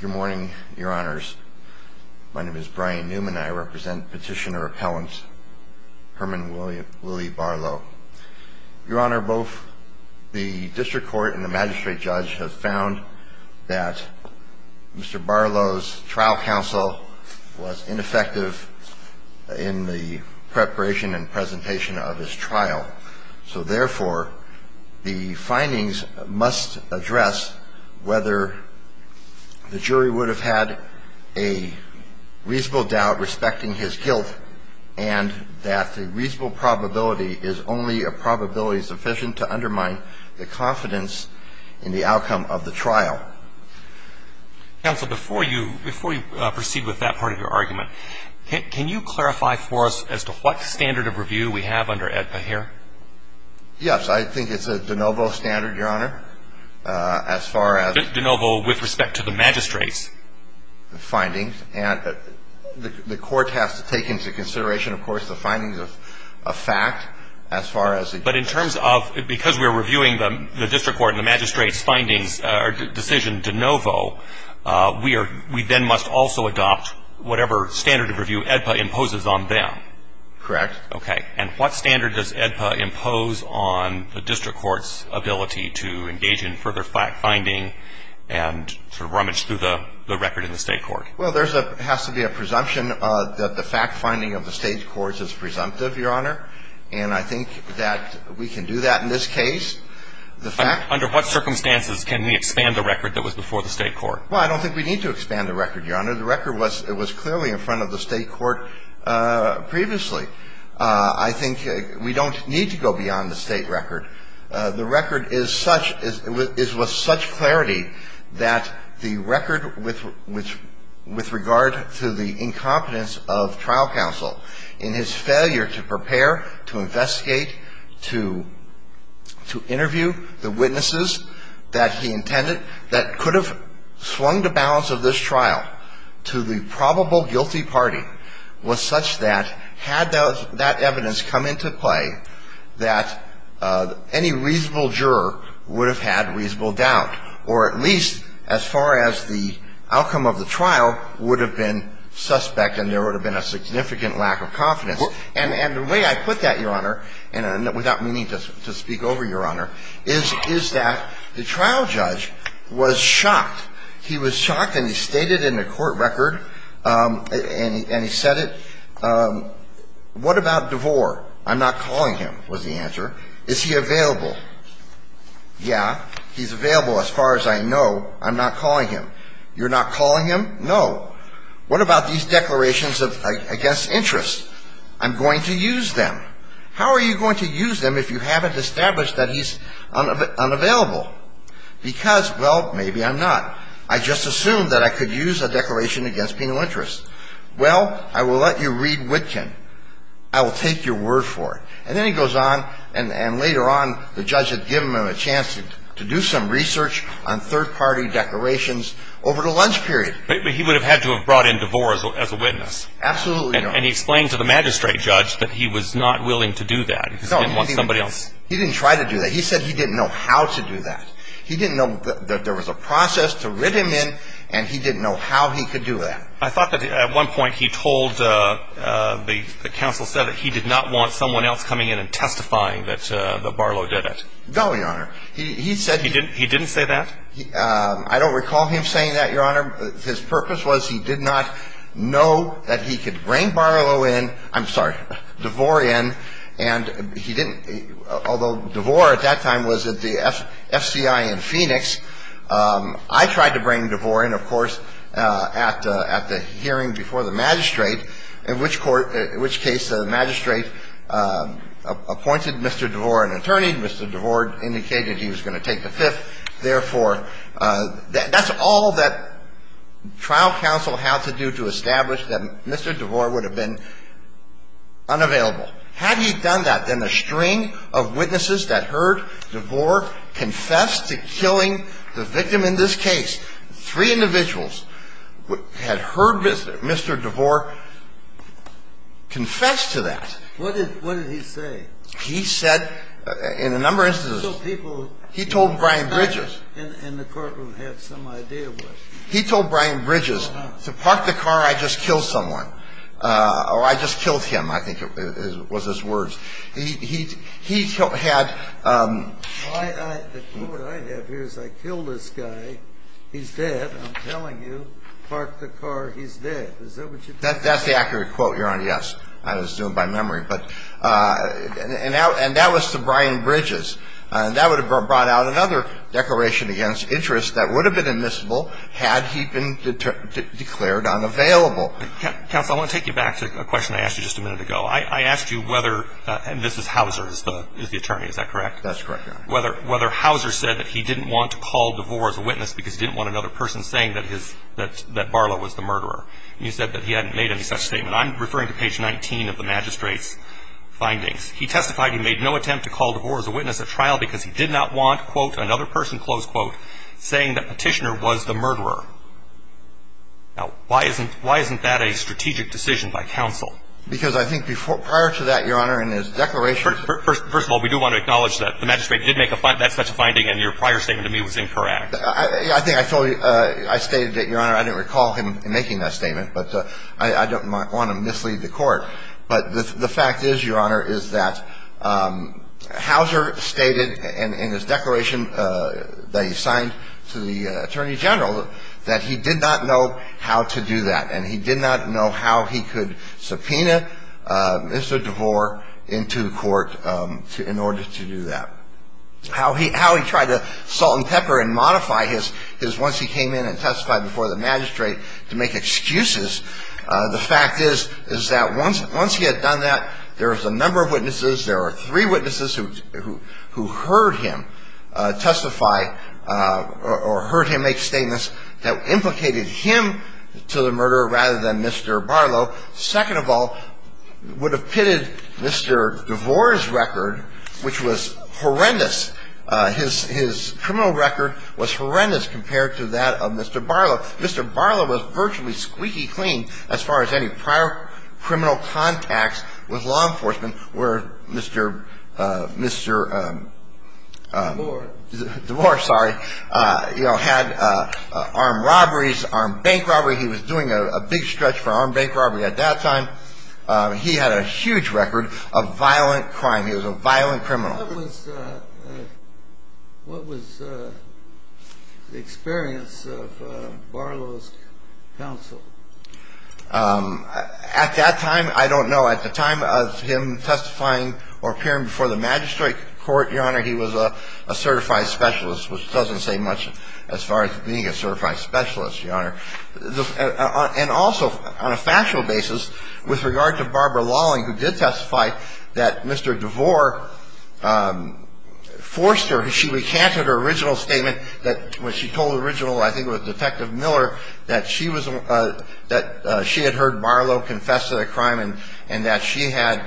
Good morning, Your Honors. My name is Brian Newman and I represent Petitioner-Appellant Herman Willie Barlow. Your Honor, both the District Court and the Magistrate Judge have found that Mr. Barlow's trial counsel was ineffective in the preparation and presentation of his trial. So therefore, the findings must address whether the jury would have had a reasonable doubt respecting his guilt and that the reasonable probability is only a probability sufficient to undermine the confidence in the outcome of the trial. Counsel, before you proceed with that part of your argument, can you clarify for us as to what standard of review we have under AEDPA here? Yes, I think it's a de novo standard, Your Honor, as far as De novo with respect to the magistrate's Findings, and the court has to take into consideration, of course, the findings of fact as far as we then must also adopt whatever standard of review AEDPA imposes on them. Correct. Okay. And what standard does AEDPA impose on the District Court's ability to engage in further fact-finding and rummage through the record in the state court? Well, there has to be a presumption that the fact-finding of the state courts is presumptive, Your Honor, and I think that we can do that in this case. Under what circumstances can we expand the record that was before the state court? Well, I don't think we need to expand the record, Your Honor. The record was clearly in front of the state court previously. I think we don't need to go beyond the state record. The record is such, is with such clarity that the record with regard to the incompetence of trial counsel in his failure to prepare, to investigate, to interview the witnesses that he intended, that could have swung the balance of this trial to the probable guilty party was such that had that evidence come into play, that any reasonable juror would have had reasonable doubt, or at least as far as the outcome of the trial would have been suspect and there would have been a significant lack of confidence. And the way I put that, Your Honor, and without meaning to speak over, Your Honor, is that the trial judge was shocked. He was shocked and he stated in the court record, and he said it, what about DeVore? I'm not calling him, was the answer. Is he available? Yeah, he's available as far as I know. I'm not calling him. You're not calling him? No. What about these declarations against interest? I'm going to use them. How are you going to use them if you haven't established that he's unavailable? Because, well, maybe I'm not. I just assumed that I could use a declaration against penal interest. Well, I will let you read Witkin. I will take your word for it. And then he goes on, and later on the judge had given him a chance to do some research on third-party declarations over the lunch period. But he would have had to have brought in DeVore as a witness. Absolutely, Your Honor. And he explained to the magistrate judge that he was not willing to do that. He didn't want somebody else. He didn't try to do that. He said he didn't know how to do that. He didn't know that there was a process to writ him in, and he didn't know how he could do that. I thought that at one point he told the counsel said that he did not want someone else coming in and testifying that Barlow did it. No, Your Honor. He said he didn't. He didn't say that? I don't recall him saying that, Your Honor. His purpose was he did not know that he could bring Barlow in. I'm sorry, DeVore in. And he didn't. Although DeVore at that time was at the FCI in Phoenix, I tried to bring DeVore in, of course, at the hearing before the magistrate, in which case the magistrate appointed Mr. DeVore an attorney. Mr. DeVore indicated he was going to take the fifth. Therefore, that's all that trial counsel had to do to establish that Mr. DeVore would have been unavailable. Had he done that, then a string of witnesses that heard DeVore confess to killing the victim in this case, three individuals had heard Mr. DeVore confess to that. What did he say? He said in a number of instances. He told people. He told Brian Bridges. And the courtroom had some idea what. He told Brian Bridges to park the car, I just killed someone. Or I just killed him, I think was his words. He had. The quote I have here is I killed this guy, he's dead. I'm telling you, park the car, he's dead. Is that what you're saying? That's the accurate quote, Your Honor, yes. I was doing it by memory. And that was to Brian Bridges. And that would have brought out another declaration against interest that would have been admissible had he been declared unavailable. Counsel, I want to take you back to a question I asked you just a minute ago. I asked you whether, and this is Hauser who is the attorney, is that correct? That's correct, Your Honor. Whether Hauser said that he didn't want to call DeVore as a witness because he didn't want another person saying that Barlow was the murderer. And you said that he hadn't made any such statement. I'm referring to page 19 of the magistrate's findings. He testified he made no attempt to call DeVore as a witness at trial because he did not want, quote, another person, close quote, saying that Petitioner was the murderer. Now, why isn't that a strategic decision by counsel? Because I think prior to that, Your Honor, in his declaration. First of all, we do want to acknowledge that the magistrate did make that such a finding and your prior statement to me was incorrect. I think I told you, I stated that, Your Honor, I didn't recall him making that statement. But I don't want to mislead the Court. But the fact is, Your Honor, is that Hauser stated in his declaration that he signed to the attorney general that he did not know how to do that and he did not know how he could subpoena Mr. DeVore into court in order to do that. How he tried to salt and pepper and modify his once he came in and testified before the magistrate to make excuses, the fact is, is that once he had done that, there was a number of witnesses. There were three witnesses who heard him testify or heard him make statements that implicated him to the murder rather than Mr. Barlow. Second of all, would have pitted Mr. DeVore's record, which was horrendous. His criminal record was horrendous compared to that of Mr. Barlow. Mr. Barlow was virtually squeaky clean as far as any prior criminal contacts with law enforcement where Mr. DeVore had armed robberies, armed bank robbery. He was doing a big stretch for armed bank robbery at that time. He had a huge record of violent crime. He was a violent criminal. What was the experience of Barlow's counsel? At that time, I don't know. At the time of him testifying or appearing before the magistrate court, Your Honor, he was a certified specialist, which doesn't say much as far as being a certified specialist, Your Honor. And also, on a factual basis, with regard to Barbara Lawling, who did testify that Mr. DeVore forced her, she recanted her original statement that when she told the original, I think it was Detective Miller, that she had heard Barlow confess to the crime and that she had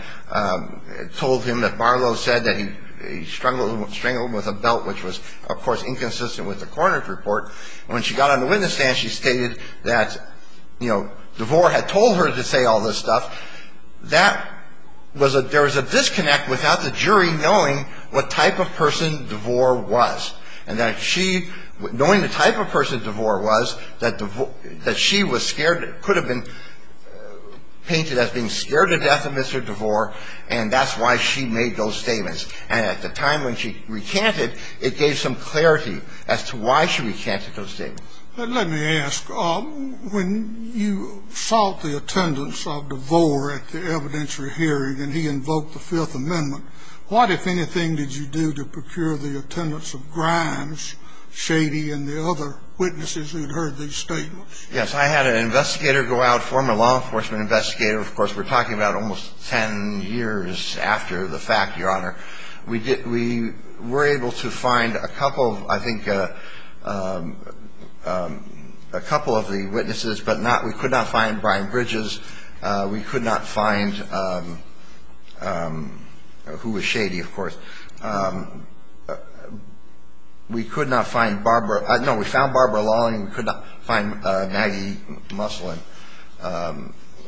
told him that Barlow said that he strangled him with a belt, which was, of course, inconsistent with the coroner's report. When she got on the witness stand, she stated that, you know, DeVore had told her to say all this stuff. That was a – there was a disconnect without the jury knowing what type of person DeVore was and that she – knowing the type of person DeVore was, that DeVore – that she was scared – could have been painted as being scared to death of Mr. DeVore, and that's why she made those statements. And at the time when she recanted, it gave some clarity as to why she recanted those statements. Let me ask. When you sought the attendance of DeVore at the evidentiary hearing and he invoked the Fifth Amendment, what, if anything, did you do to procure the attendance of Grimes, Shady, and the other witnesses who had heard these statements? Yes. I had an investigator go out, former law enforcement investigator. Of course, we're talking about almost ten years after the fact, Your Honor. We were able to find a couple of – I think a couple of the witnesses, but not – we could not find Brian Bridges. We could not find – who was Shady, of course. We could not find Barbara – no, we found Barbara Lawling. We could not find Maggie Muslin.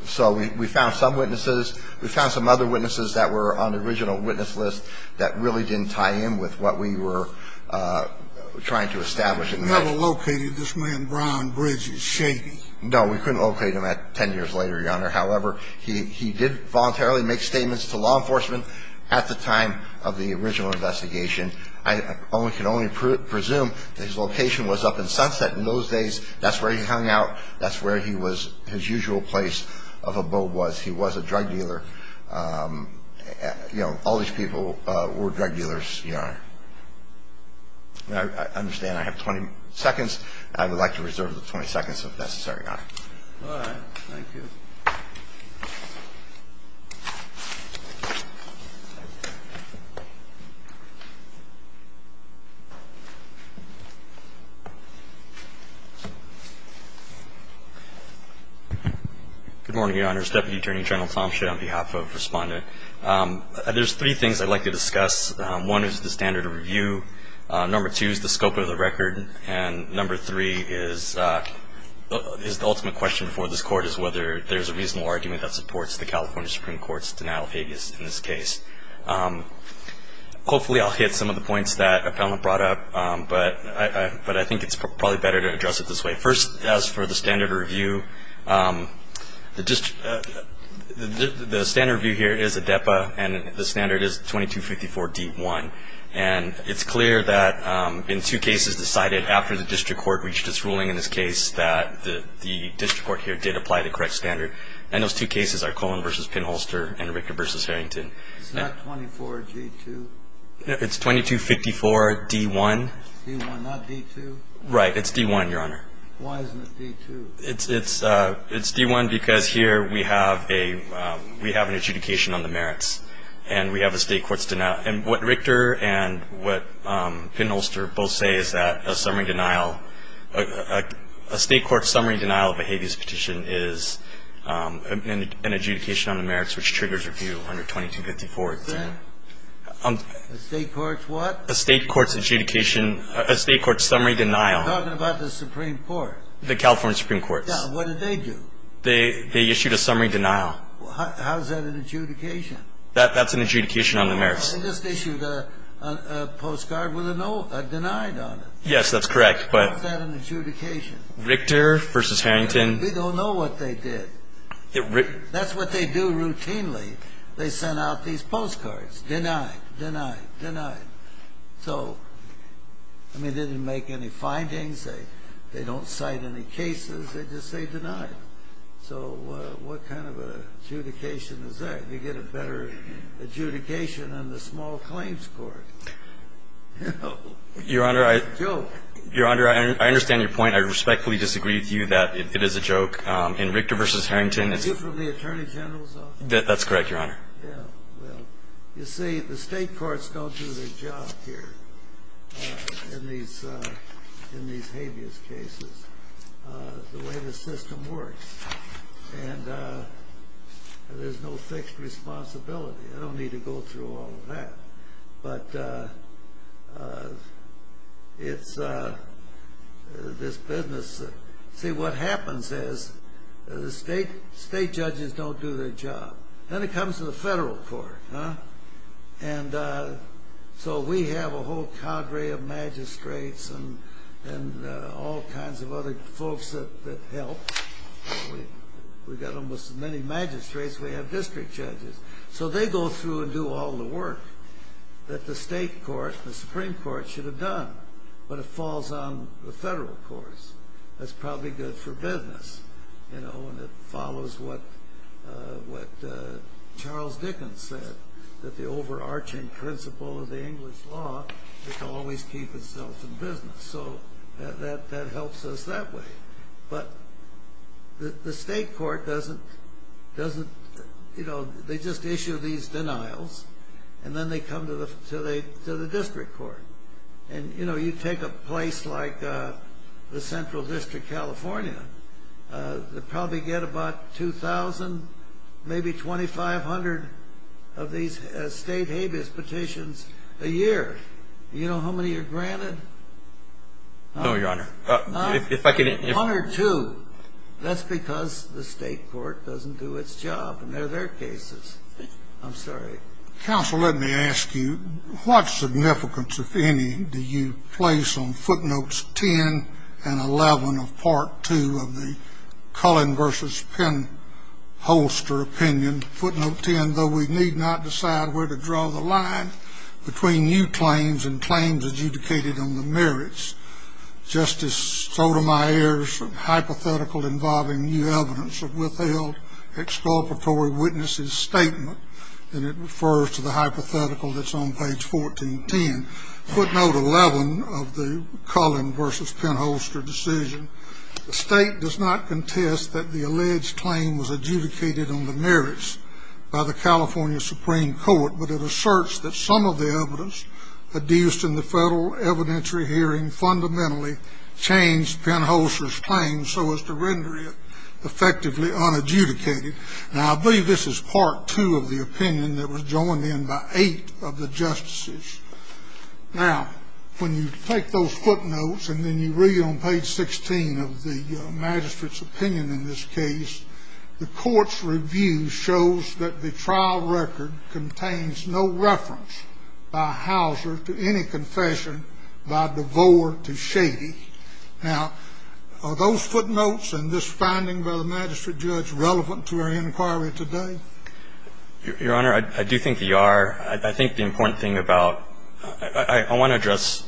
So we found some witnesses. We found some other witnesses that were on the original witness list that really didn't tie in with what we were trying to establish. You never located this man, Brian Bridges, Shady? No. We couldn't locate him at ten years later, Your Honor. However, he did voluntarily make statements to law enforcement at the time of the original investigation. I can only presume that his location was up in Sunset. In those days, that's where he hung out. That's where he was – his usual place of abode was. He was a drug dealer. You know, all these people were drug dealers, Your Honor. I understand I have 20 seconds. I would like to reserve the 20 seconds, if necessary, Your Honor. All right. Thank you. Good morning, Your Honors. Deputy Attorney General Tomshin on behalf of Respondent. There's three things I'd like to discuss. One is the standard of review. Number two is the scope of the record. And number three is the ultimate question for this Court is whether there's a reasonable argument that supports the California Supreme Court's denial of habeas in this case. Hopefully I'll hit some of the points that Appellant brought up, but I think it's probably better to address it this way. First, as for the standard of review, the standard of review here is ADEPA, and the standard is 2254 D-1. And it's clear that in two cases decided after the district court reached its ruling in this case that the district court here did apply the correct standard. And those two cases are Coleman v. Pinholster and Ricker v. Harrington. It's not 24 G-2? It's 2254 D-1. D-1, not D-2? Right. It's D-1, Your Honor. Why isn't it D-2? It's D-1 because here we have an adjudication on the merits, and we have a State court's denial. And what Ricker and what Pinholster both say is that a summary denial, a State court's summary denial of a habeas petition is an adjudication on the merits which triggers review under 2254. A State court's what? A State court's adjudication, a State court's summary denial. I'm talking about the Supreme Court. The California Supreme Court. What did they do? They issued a summary denial. How is that an adjudication? That's an adjudication on the merits. They just issued a postcard with a no, a denied on it. Yes, that's correct, but. Is that an adjudication? Ricker v. Harrington. We don't know what they did. That's what they do routinely. They sent out these postcards, denied, denied, denied. So, I mean, they didn't make any findings. They don't cite any cases. They just say denied. So what kind of an adjudication is that? You get a better adjudication on the small claims court. It's a joke. Your Honor, I understand your point. I respectfully disagree with you that it is a joke. In Ricker v. Harrington, it's a. Is it from the Attorney General's office? That's correct, Your Honor. Yeah, well, you see, the state courts don't do their job here in these habeas cases. The way the system works. And there's no fixed responsibility. I don't need to go through all of that. But it's this business. See, what happens is the state judges don't do their job. Then it comes to the federal court. And so we have a whole cadre of magistrates and all kinds of other folks that help. We've got almost as many magistrates. We have district judges. So they go through and do all the work that the state court, the Supreme Court, should have done. But it falls on the federal courts. That's probably good for business. And it follows what Charles Dickens said, that the overarching principle of the English law is to always keep itself in business. So that helps us that way. But the state court doesn't. They just issue these denials. And then they come to the district court. And, you know, you take a place like the Central District, California, they probably get about 2,000, maybe 2,500 of these state habeas petitions a year. Do you know how many are granted? No, Your Honor. One or two. That's because the state court doesn't do its job. And they're their cases. I'm sorry. Counsel, let me ask you, what significance, if any, do you place on footnotes 10 and 11 of Part 2 of the Cullen v. Penholster opinion, footnote 10, though we need not decide where to draw the line between new claims and claims adjudicated on the merits, Justice Sotomayor's hypothetical involving new evidence of withheld exculpatory witnesses' statement? And it refers to the hypothetical that's on page 1410. Footnote 11 of the Cullen v. Penholster decision, the state does not contest that the alleged claim was adjudicated on the merits by the California Supreme Court, but it asserts that some of the evidence adduced in the federal evidentiary hearing fundamentally changed Penholster's claim so as to render it effectively unadjudicated. Now, I believe this is Part 2 of the opinion that was joined in by eight of the justices. Now, when you take those footnotes and then you read on page 16 of the magistrate's opinion in this case, the Court's review shows that the trial record contains no reference by Hauser to any confession by DeVore to Shady. Now, are those footnotes and this finding by the magistrate judge relevant to our inquiry today? Your Honor, I do think they are. I think the important thing about – I want to address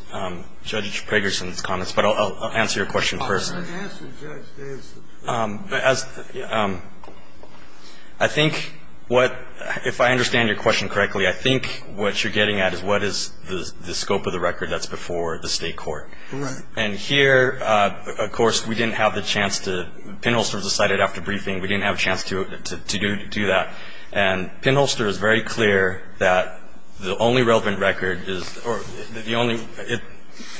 Judge Pragerson's comments, but I'll answer your question first. I think what – if I understand your question correctly, I think what you're getting at is what is the scope of the record that's before the State court. And here, of course, we didn't have the chance to – Penholster decided after briefing we didn't have a chance to do that. And Penholster is very clear that the only relevant record is – or the only –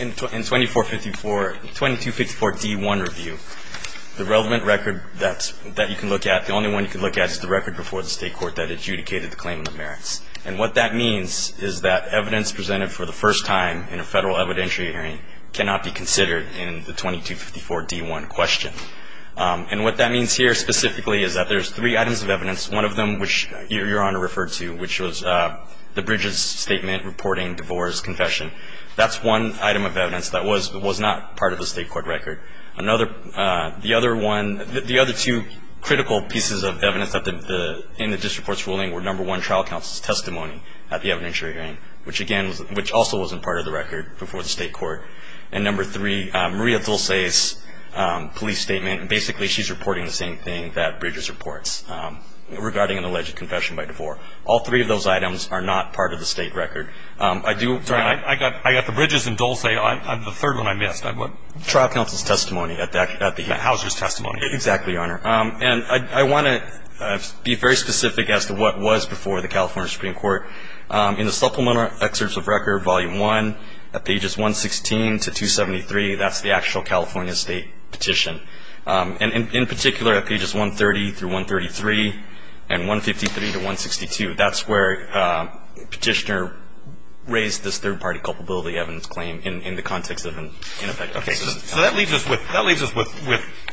in 2454, 2254d1, the relevant record that you can look at, the only one you can look at is the record before the State court that adjudicated the claimant of merits. And what that means is that evidence presented for the first time in a Federal evidentiary hearing cannot be considered in the 2254d1 question. And what that means here specifically is that there's three items of evidence. One of them, which your Honor referred to, which was the Bridges statement reporting DeVore's confession. That's one item of evidence that was not part of the State court record. Another – the other one – the other two critical pieces of evidence in the district court's ruling were number one, trial counsel's testimony at the evidentiary hearing, which again – which also wasn't part of the record before the State court. And number three, Maria Dulce's police statement. Basically, she's reporting the same thing that Bridges reports regarding an alleged confession by DeVore. All three of those items are not part of the State record. I do – I got the Bridges and Dulce. The third one I missed. What? Trial counsel's testimony at the – Hauser's testimony. Exactly, Your Honor. And I want to be very specific as to what was before the California Supreme Court. In the supplemental excerpts of record, volume one, at pages 116 to 273, that's the actual California State petition. And in particular, at pages 130 through 133 and 153 to 162, that's where Petitioner raised this third-party culpability evidence claim in the context of an ineffective assistance. Okay. So that leaves us with – that leaves us with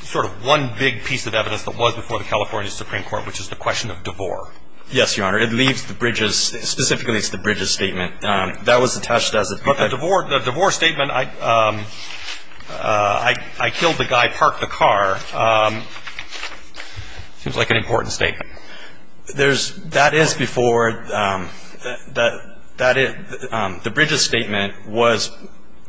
sort of one big piece of evidence that was before the California Supreme Court, which is the question of DeVore. Yes, Your Honor. It leaves the Bridges – specifically, it's the Bridges statement. That was attached as a – But the DeVore – the DeVore statement, I killed the guy, parked the car, seems like an important statement. There's – that is before – that is – the Bridges statement was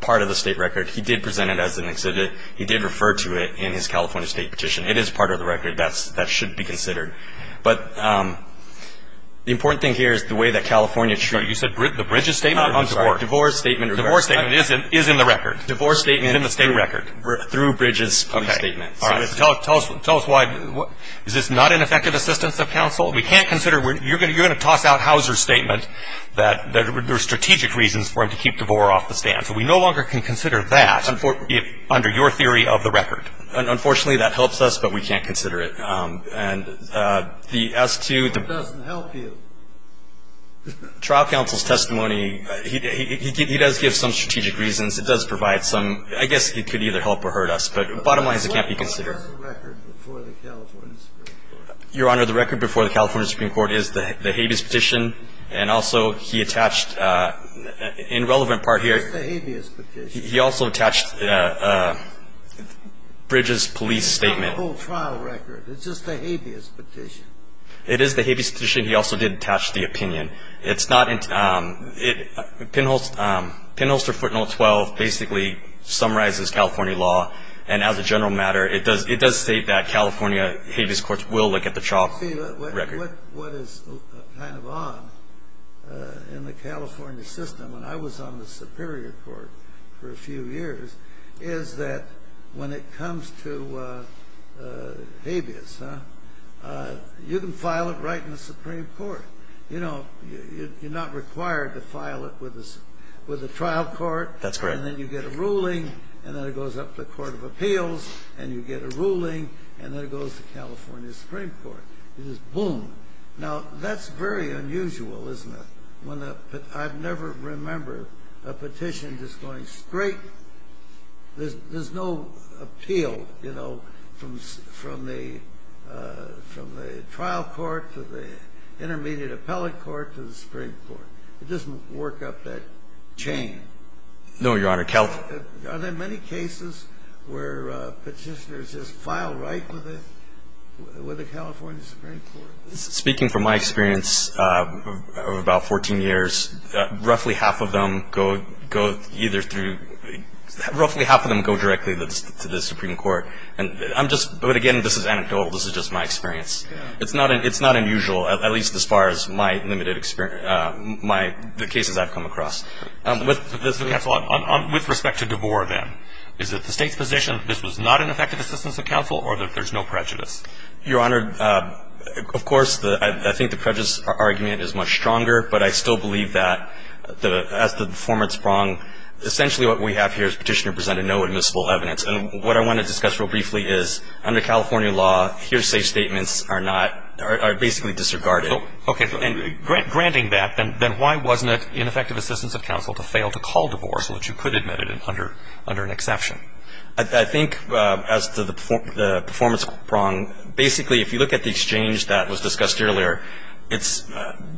part of the State record. He did present it as an exhibit. He did refer to it in his California State petition. It is part of the record. That's – that should be considered. But the important thing here is the way that California – You said the Bridges statement? Not on DeVore. DeVore's statement – DeVore's statement is in the record. DeVore's statement – Is in the State record. Through Bridges' statement. Okay. All right. Tell us why – is this not an effective assistance of counsel? We can't consider – you're going to toss out Hauser's statement that there are strategic reasons for him to keep DeVore off the stand. So we no longer can consider that under your theory of the record. Unfortunately, that helps us, but we can't consider it. And the S2 – It doesn't help you. Trial counsel's testimony – he does give some strategic reasons. It does provide some – I guess it could either help or hurt us. But bottom line is it can't be considered. Your Honor, the record before the California Supreme Court. Your Honor, the record before the California Supreme Court is the habeas petition. And also, he attached – in relevant part here – It's the habeas petition. He also attached Bridges' police statement. It's not a whole trial record. It's just a habeas petition. It is the habeas petition. He also did attach the opinion. It's not – it – Penholster Footnote 12 basically summarizes California law. And as a general matter, it does state that California habeas courts will look at the trial record. What is kind of odd in the California system, when I was on the Superior Court for a few years, is that when it comes to habeas, you can file it right in the Supreme Court. You know, you're not required to file it with the trial court. That's correct. And then you get a ruling, and then it goes up to the Court of Appeals, and you get a ruling, and then it goes to California Supreme Court. It is boom. Now, that's very unusual, isn't it? When the – I never remember a petition just going straight – there's no appeal, you know, from the trial court to the intermediate appellate court to the Supreme Court. It doesn't work up that chain. No, Your Honor. Are there many cases where petitioners just file right with the California Supreme Court? Speaking from my experience of about 14 years, roughly half of them go either through – roughly half of them go directly to the Supreme Court. And I'm just – but, again, this is anecdotal. This is just my experience. It's not unusual, at least as far as my limited experience – my – the cases I've come across. With respect to DeBoer, then, is it the State's position that this was not an effective assistance of counsel, or that there's no prejudice? Your Honor, of course, I think the prejudice argument is much stronger, but I still believe that the – as to the former, it's wrong. Essentially, what we have here is Petitioner presented no admissible evidence. And what I want to discuss real briefly is, under California law, hearsay statements are not – are basically disregarded. Okay. Granting that, then why wasn't it ineffective assistance of counsel to fail to call DeBoer so that you could admit it under an exception? I think, as to the performance prong, basically, if you look at the exchange that was discussed earlier, it's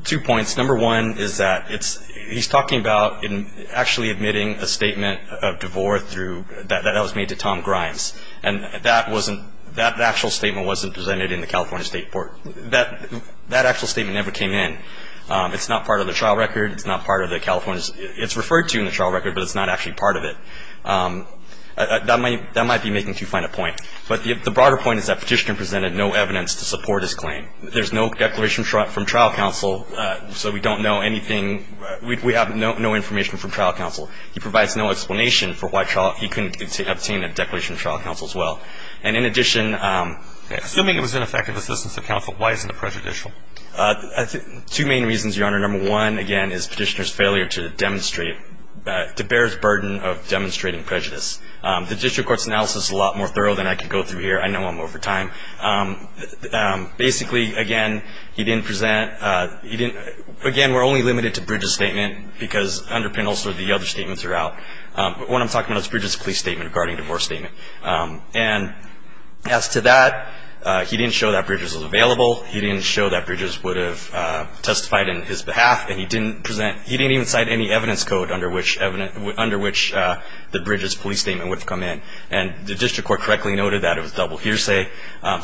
two points. Number one is that it's – he's talking about actually admitting a statement of DeBoer through – that was made to Tom Grimes. And that wasn't – that actual statement wasn't presented in the California State Court. That actual statement never came in. It's not part of the trial record. It's not part of the California – it's referred to in the trial record, but it's not actually part of it. That might be making too fine a point. But the broader point is that Petitioner presented no evidence to support his claim. There's no declaration from trial counsel, so we don't know anything – we have no information from trial counsel. as well. And in addition – Assuming it was ineffective assistance of counsel, why isn't it prejudicial? Two main reasons, Your Honor. Number one, again, is Petitioner's failure to demonstrate – DeBoer's burden of demonstrating prejudice. The district court's analysis is a lot more thorough than I could go through here. I know I'm over time. Basically, again, he didn't present – he didn't – again, we're only limited to Bridges' statement because under Pindell, sort of the other statements are out. But what I'm talking about is Bridges' police statement regarding divorce statement. And as to that, he didn't show that Bridges was available. He didn't show that Bridges would have testified in his behalf. And he didn't present – he didn't even cite any evidence code under which the Bridges' police statement would have come in. And the district court correctly noted that it was double hearsay.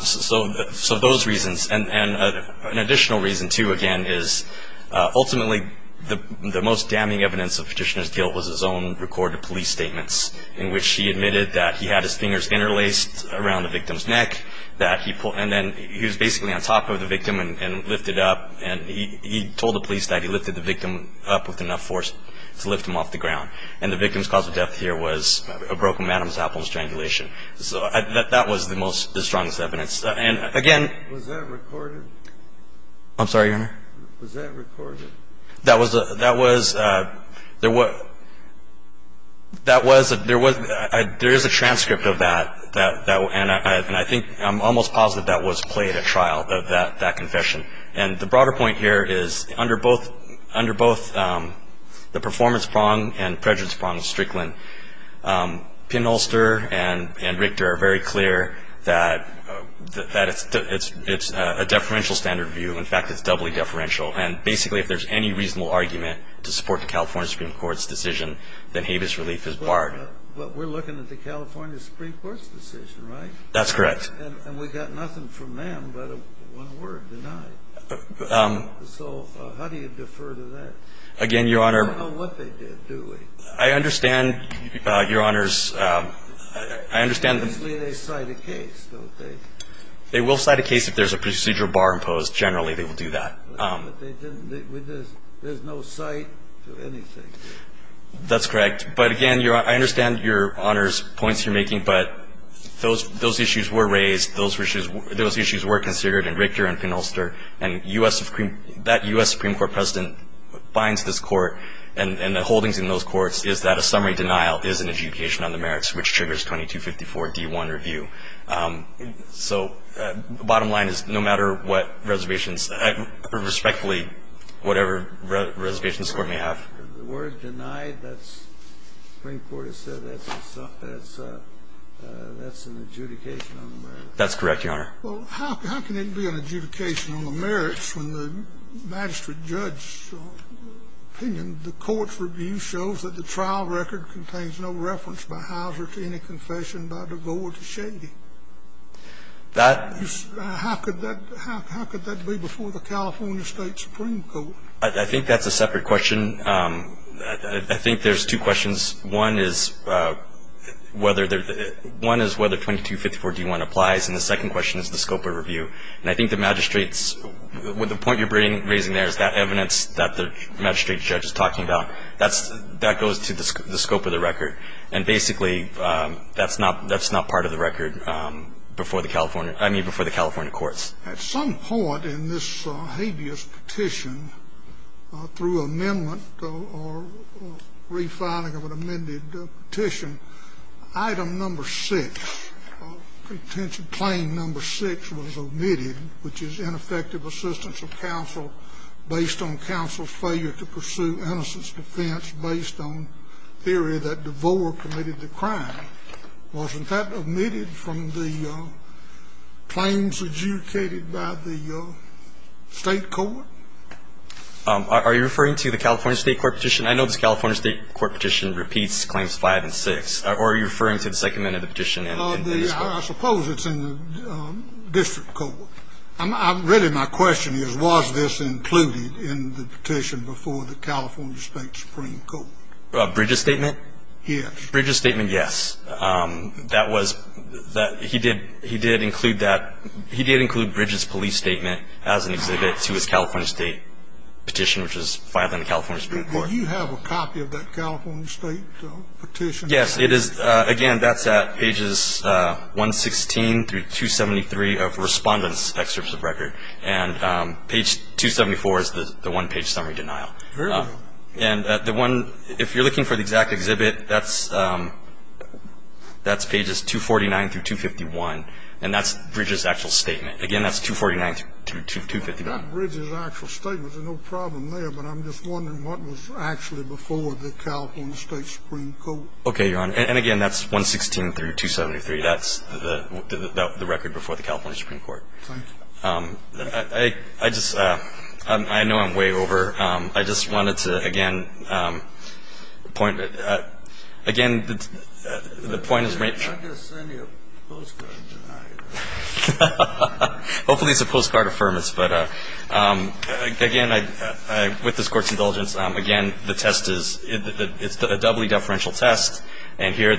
So those reasons. And an additional reason, too, again, is ultimately the most damning evidence of Petitioner's own recorded police statements in which he admitted that he had his fingers interlaced around the victim's neck, that he – and then he was basically on top of the victim and lifted up. And he told the police that he lifted the victim up with enough force to lift him off the ground. And the victim's cause of death here was a broken man's apple and strangulation. So that was the most – the strongest evidence. And, again – Was that recorded? I'm sorry, Your Honor? Was that recorded? That was – there was – there is a transcript of that. And I think – I'm almost positive that was played at trial, that confession. And the broader point here is under both the performance prong and prejudice prong of Strickland, Pinholster and Richter are very clear that it's a deferential standard view. In fact, it's doubly deferential. And basically, if there's any reasonable argument to support the California Supreme Court's decision, then Habeas relief is barred. But we're looking at the California Supreme Court's decision, right? That's correct. And we got nothing from them but one word, denied. So how do you defer to that? Again, Your Honor – We don't know what they did, do we? I understand, Your Honors – I understand – Usually they cite a case, don't they? They will cite a case if there's a procedural bar imposed. Generally, they will do that. But they didn't – there's no cite to anything. That's correct. But, again, Your Honor, I understand Your Honor's points you're making. But those issues were raised. Those issues were considered in Richter and Pinholster. And U.S. Supreme – that U.S. Supreme Court president binds this court, and the holdings in those courts is that a summary denial is an adjudication on the merits, which triggers 2254d1 review. So the bottom line is, no matter what reservations – respectfully, whatever reservations the court may have. The word denied, that's – the Supreme Court has said that's an adjudication on the merits. That's correct, Your Honor. Well, how can it be an adjudication on the merits when the magistrate judge's opinion, the court's review shows that the trial record contains no reference by Hauser to any confession by the court of shady? That – How could that be before the California State Supreme Court? I think that's a separate question. I think there's two questions. One is whether 2254d1 applies, and the second question is the scope of review. And I think the magistrate's – the point you're raising there is that evidence that the magistrate judge is talking about, that goes to the scope of the record. And basically, that's not – that's not part of the record before the California – I mean, before the California courts. At some point in this habeas petition, through amendment or refiling of an amended petition, item number 6, claim number 6 was omitted, which is ineffective assistance of counsel based on counsel's failure to pursue innocence defense based on theory that DeVore committed the crime. Wasn't that omitted from the claims adjudicated by the state court? Are you referring to the California state court petition? I know this California state court petition repeats claims 5 and 6. Or are you referring to the second amendment of the petition in this case? I suppose it's in the district court. Really, my question is, was this included in the petition before the California state supreme court? Bridges' statement? Yes. Bridges' statement, yes. That was – he did – he did include that – he did include Bridges' police statement as an exhibit to his California state petition, which was filed in the California supreme court. Do you have a copy of that California state petition? Yes. It is – again, that's at pages 116 through 273 of Respondent's excerpts of record. And page 274 is the one-page summary denial. And the one – if you're looking for the exact exhibit, that's pages 249 through 251, and that's Bridges' actual statement. Again, that's 249 through 251. I've got Bridges' actual statement. There's no problem there, but I'm just wondering what was actually before the California supreme court. Okay, Your Honor. And again, that's 116 through 273. That's the record before the California supreme court. Thank you. I just – I know I'm way over. I just wanted to, again, point – again, the point is – I'm not going to send you a postcard to deny it. Hopefully it's a postcard affirmance. But again, with this Court's indulgence, again, the test is – it's a doubly deferential test. And here,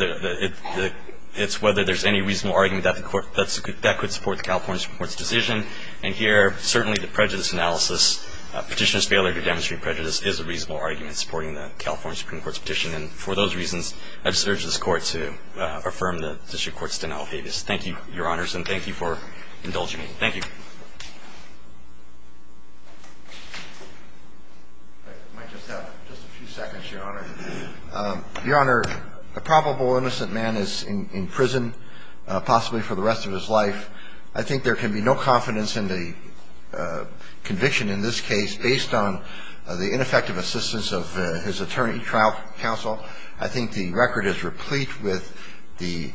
it's whether there's any reasonable argument that the Court – that could support the California supreme court's decision. And here, certainly the prejudice analysis, Petitioner's failure to demonstrate prejudice, is a reasonable argument supporting the California supreme court's petition. And for those reasons, I just urge this Court to affirm the District Court's denial of habeas. Thank you, Your Honors, and thank you for indulging me. Thank you. I might just have just a few seconds, Your Honor. Your Honor, a probable innocent man is in prison, possibly for the rest of his life. I think there can be no confidence in the conviction in this case based on the ineffective assistance of his attorney, trial counsel. I think the record is replete with the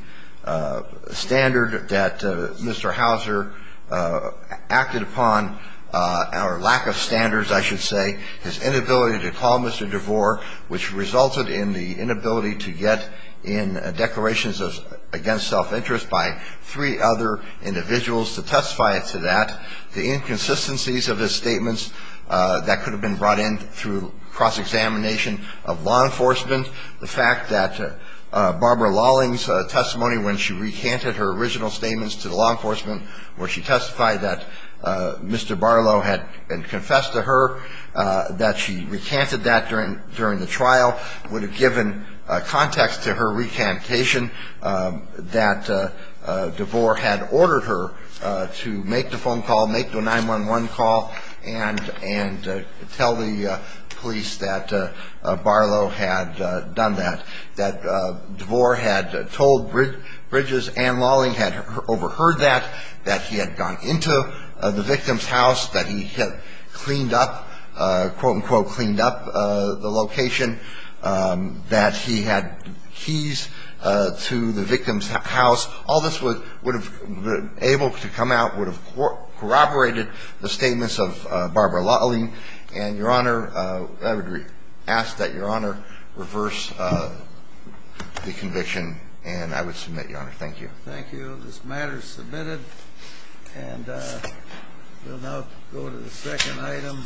standard that Mr. Hauser, the defendant, acted upon, or lack of standards, I should say, his inability to call Mr. DeVore, which resulted in the inability to get in declarations against self-interest by three other individuals to testify to that, the inconsistencies of his statements that could have been brought in through cross-examination of law enforcement, the fact that Barbara Lawling's testimony when she recanted her original statements to the law enforcement, where she testified that Mr. Barlow had confessed to her, that she recanted that during the trial, would have given context to her recantation, that DeVore had ordered her to make the phone call, make the 911 call, and tell the police that Barlow had done that, that DeVore had done that, that Barlow had done that, that DeVore had done that, that DeVore had done that, that Barbara Lawling had overheard that, that he had gone into the victim's house, that he had cleaned up, quote-unquote, cleaned up the location, that he had keys to the victim's house. All this would have been able to come out, would have corroborated the statements of Barbara Lawling, and Your Honor, I would ask that Your Honor reverse the conviction, and I would submit, Your Honor. Thank you. Thank you. This matter is submitted, and we'll now go to the second item.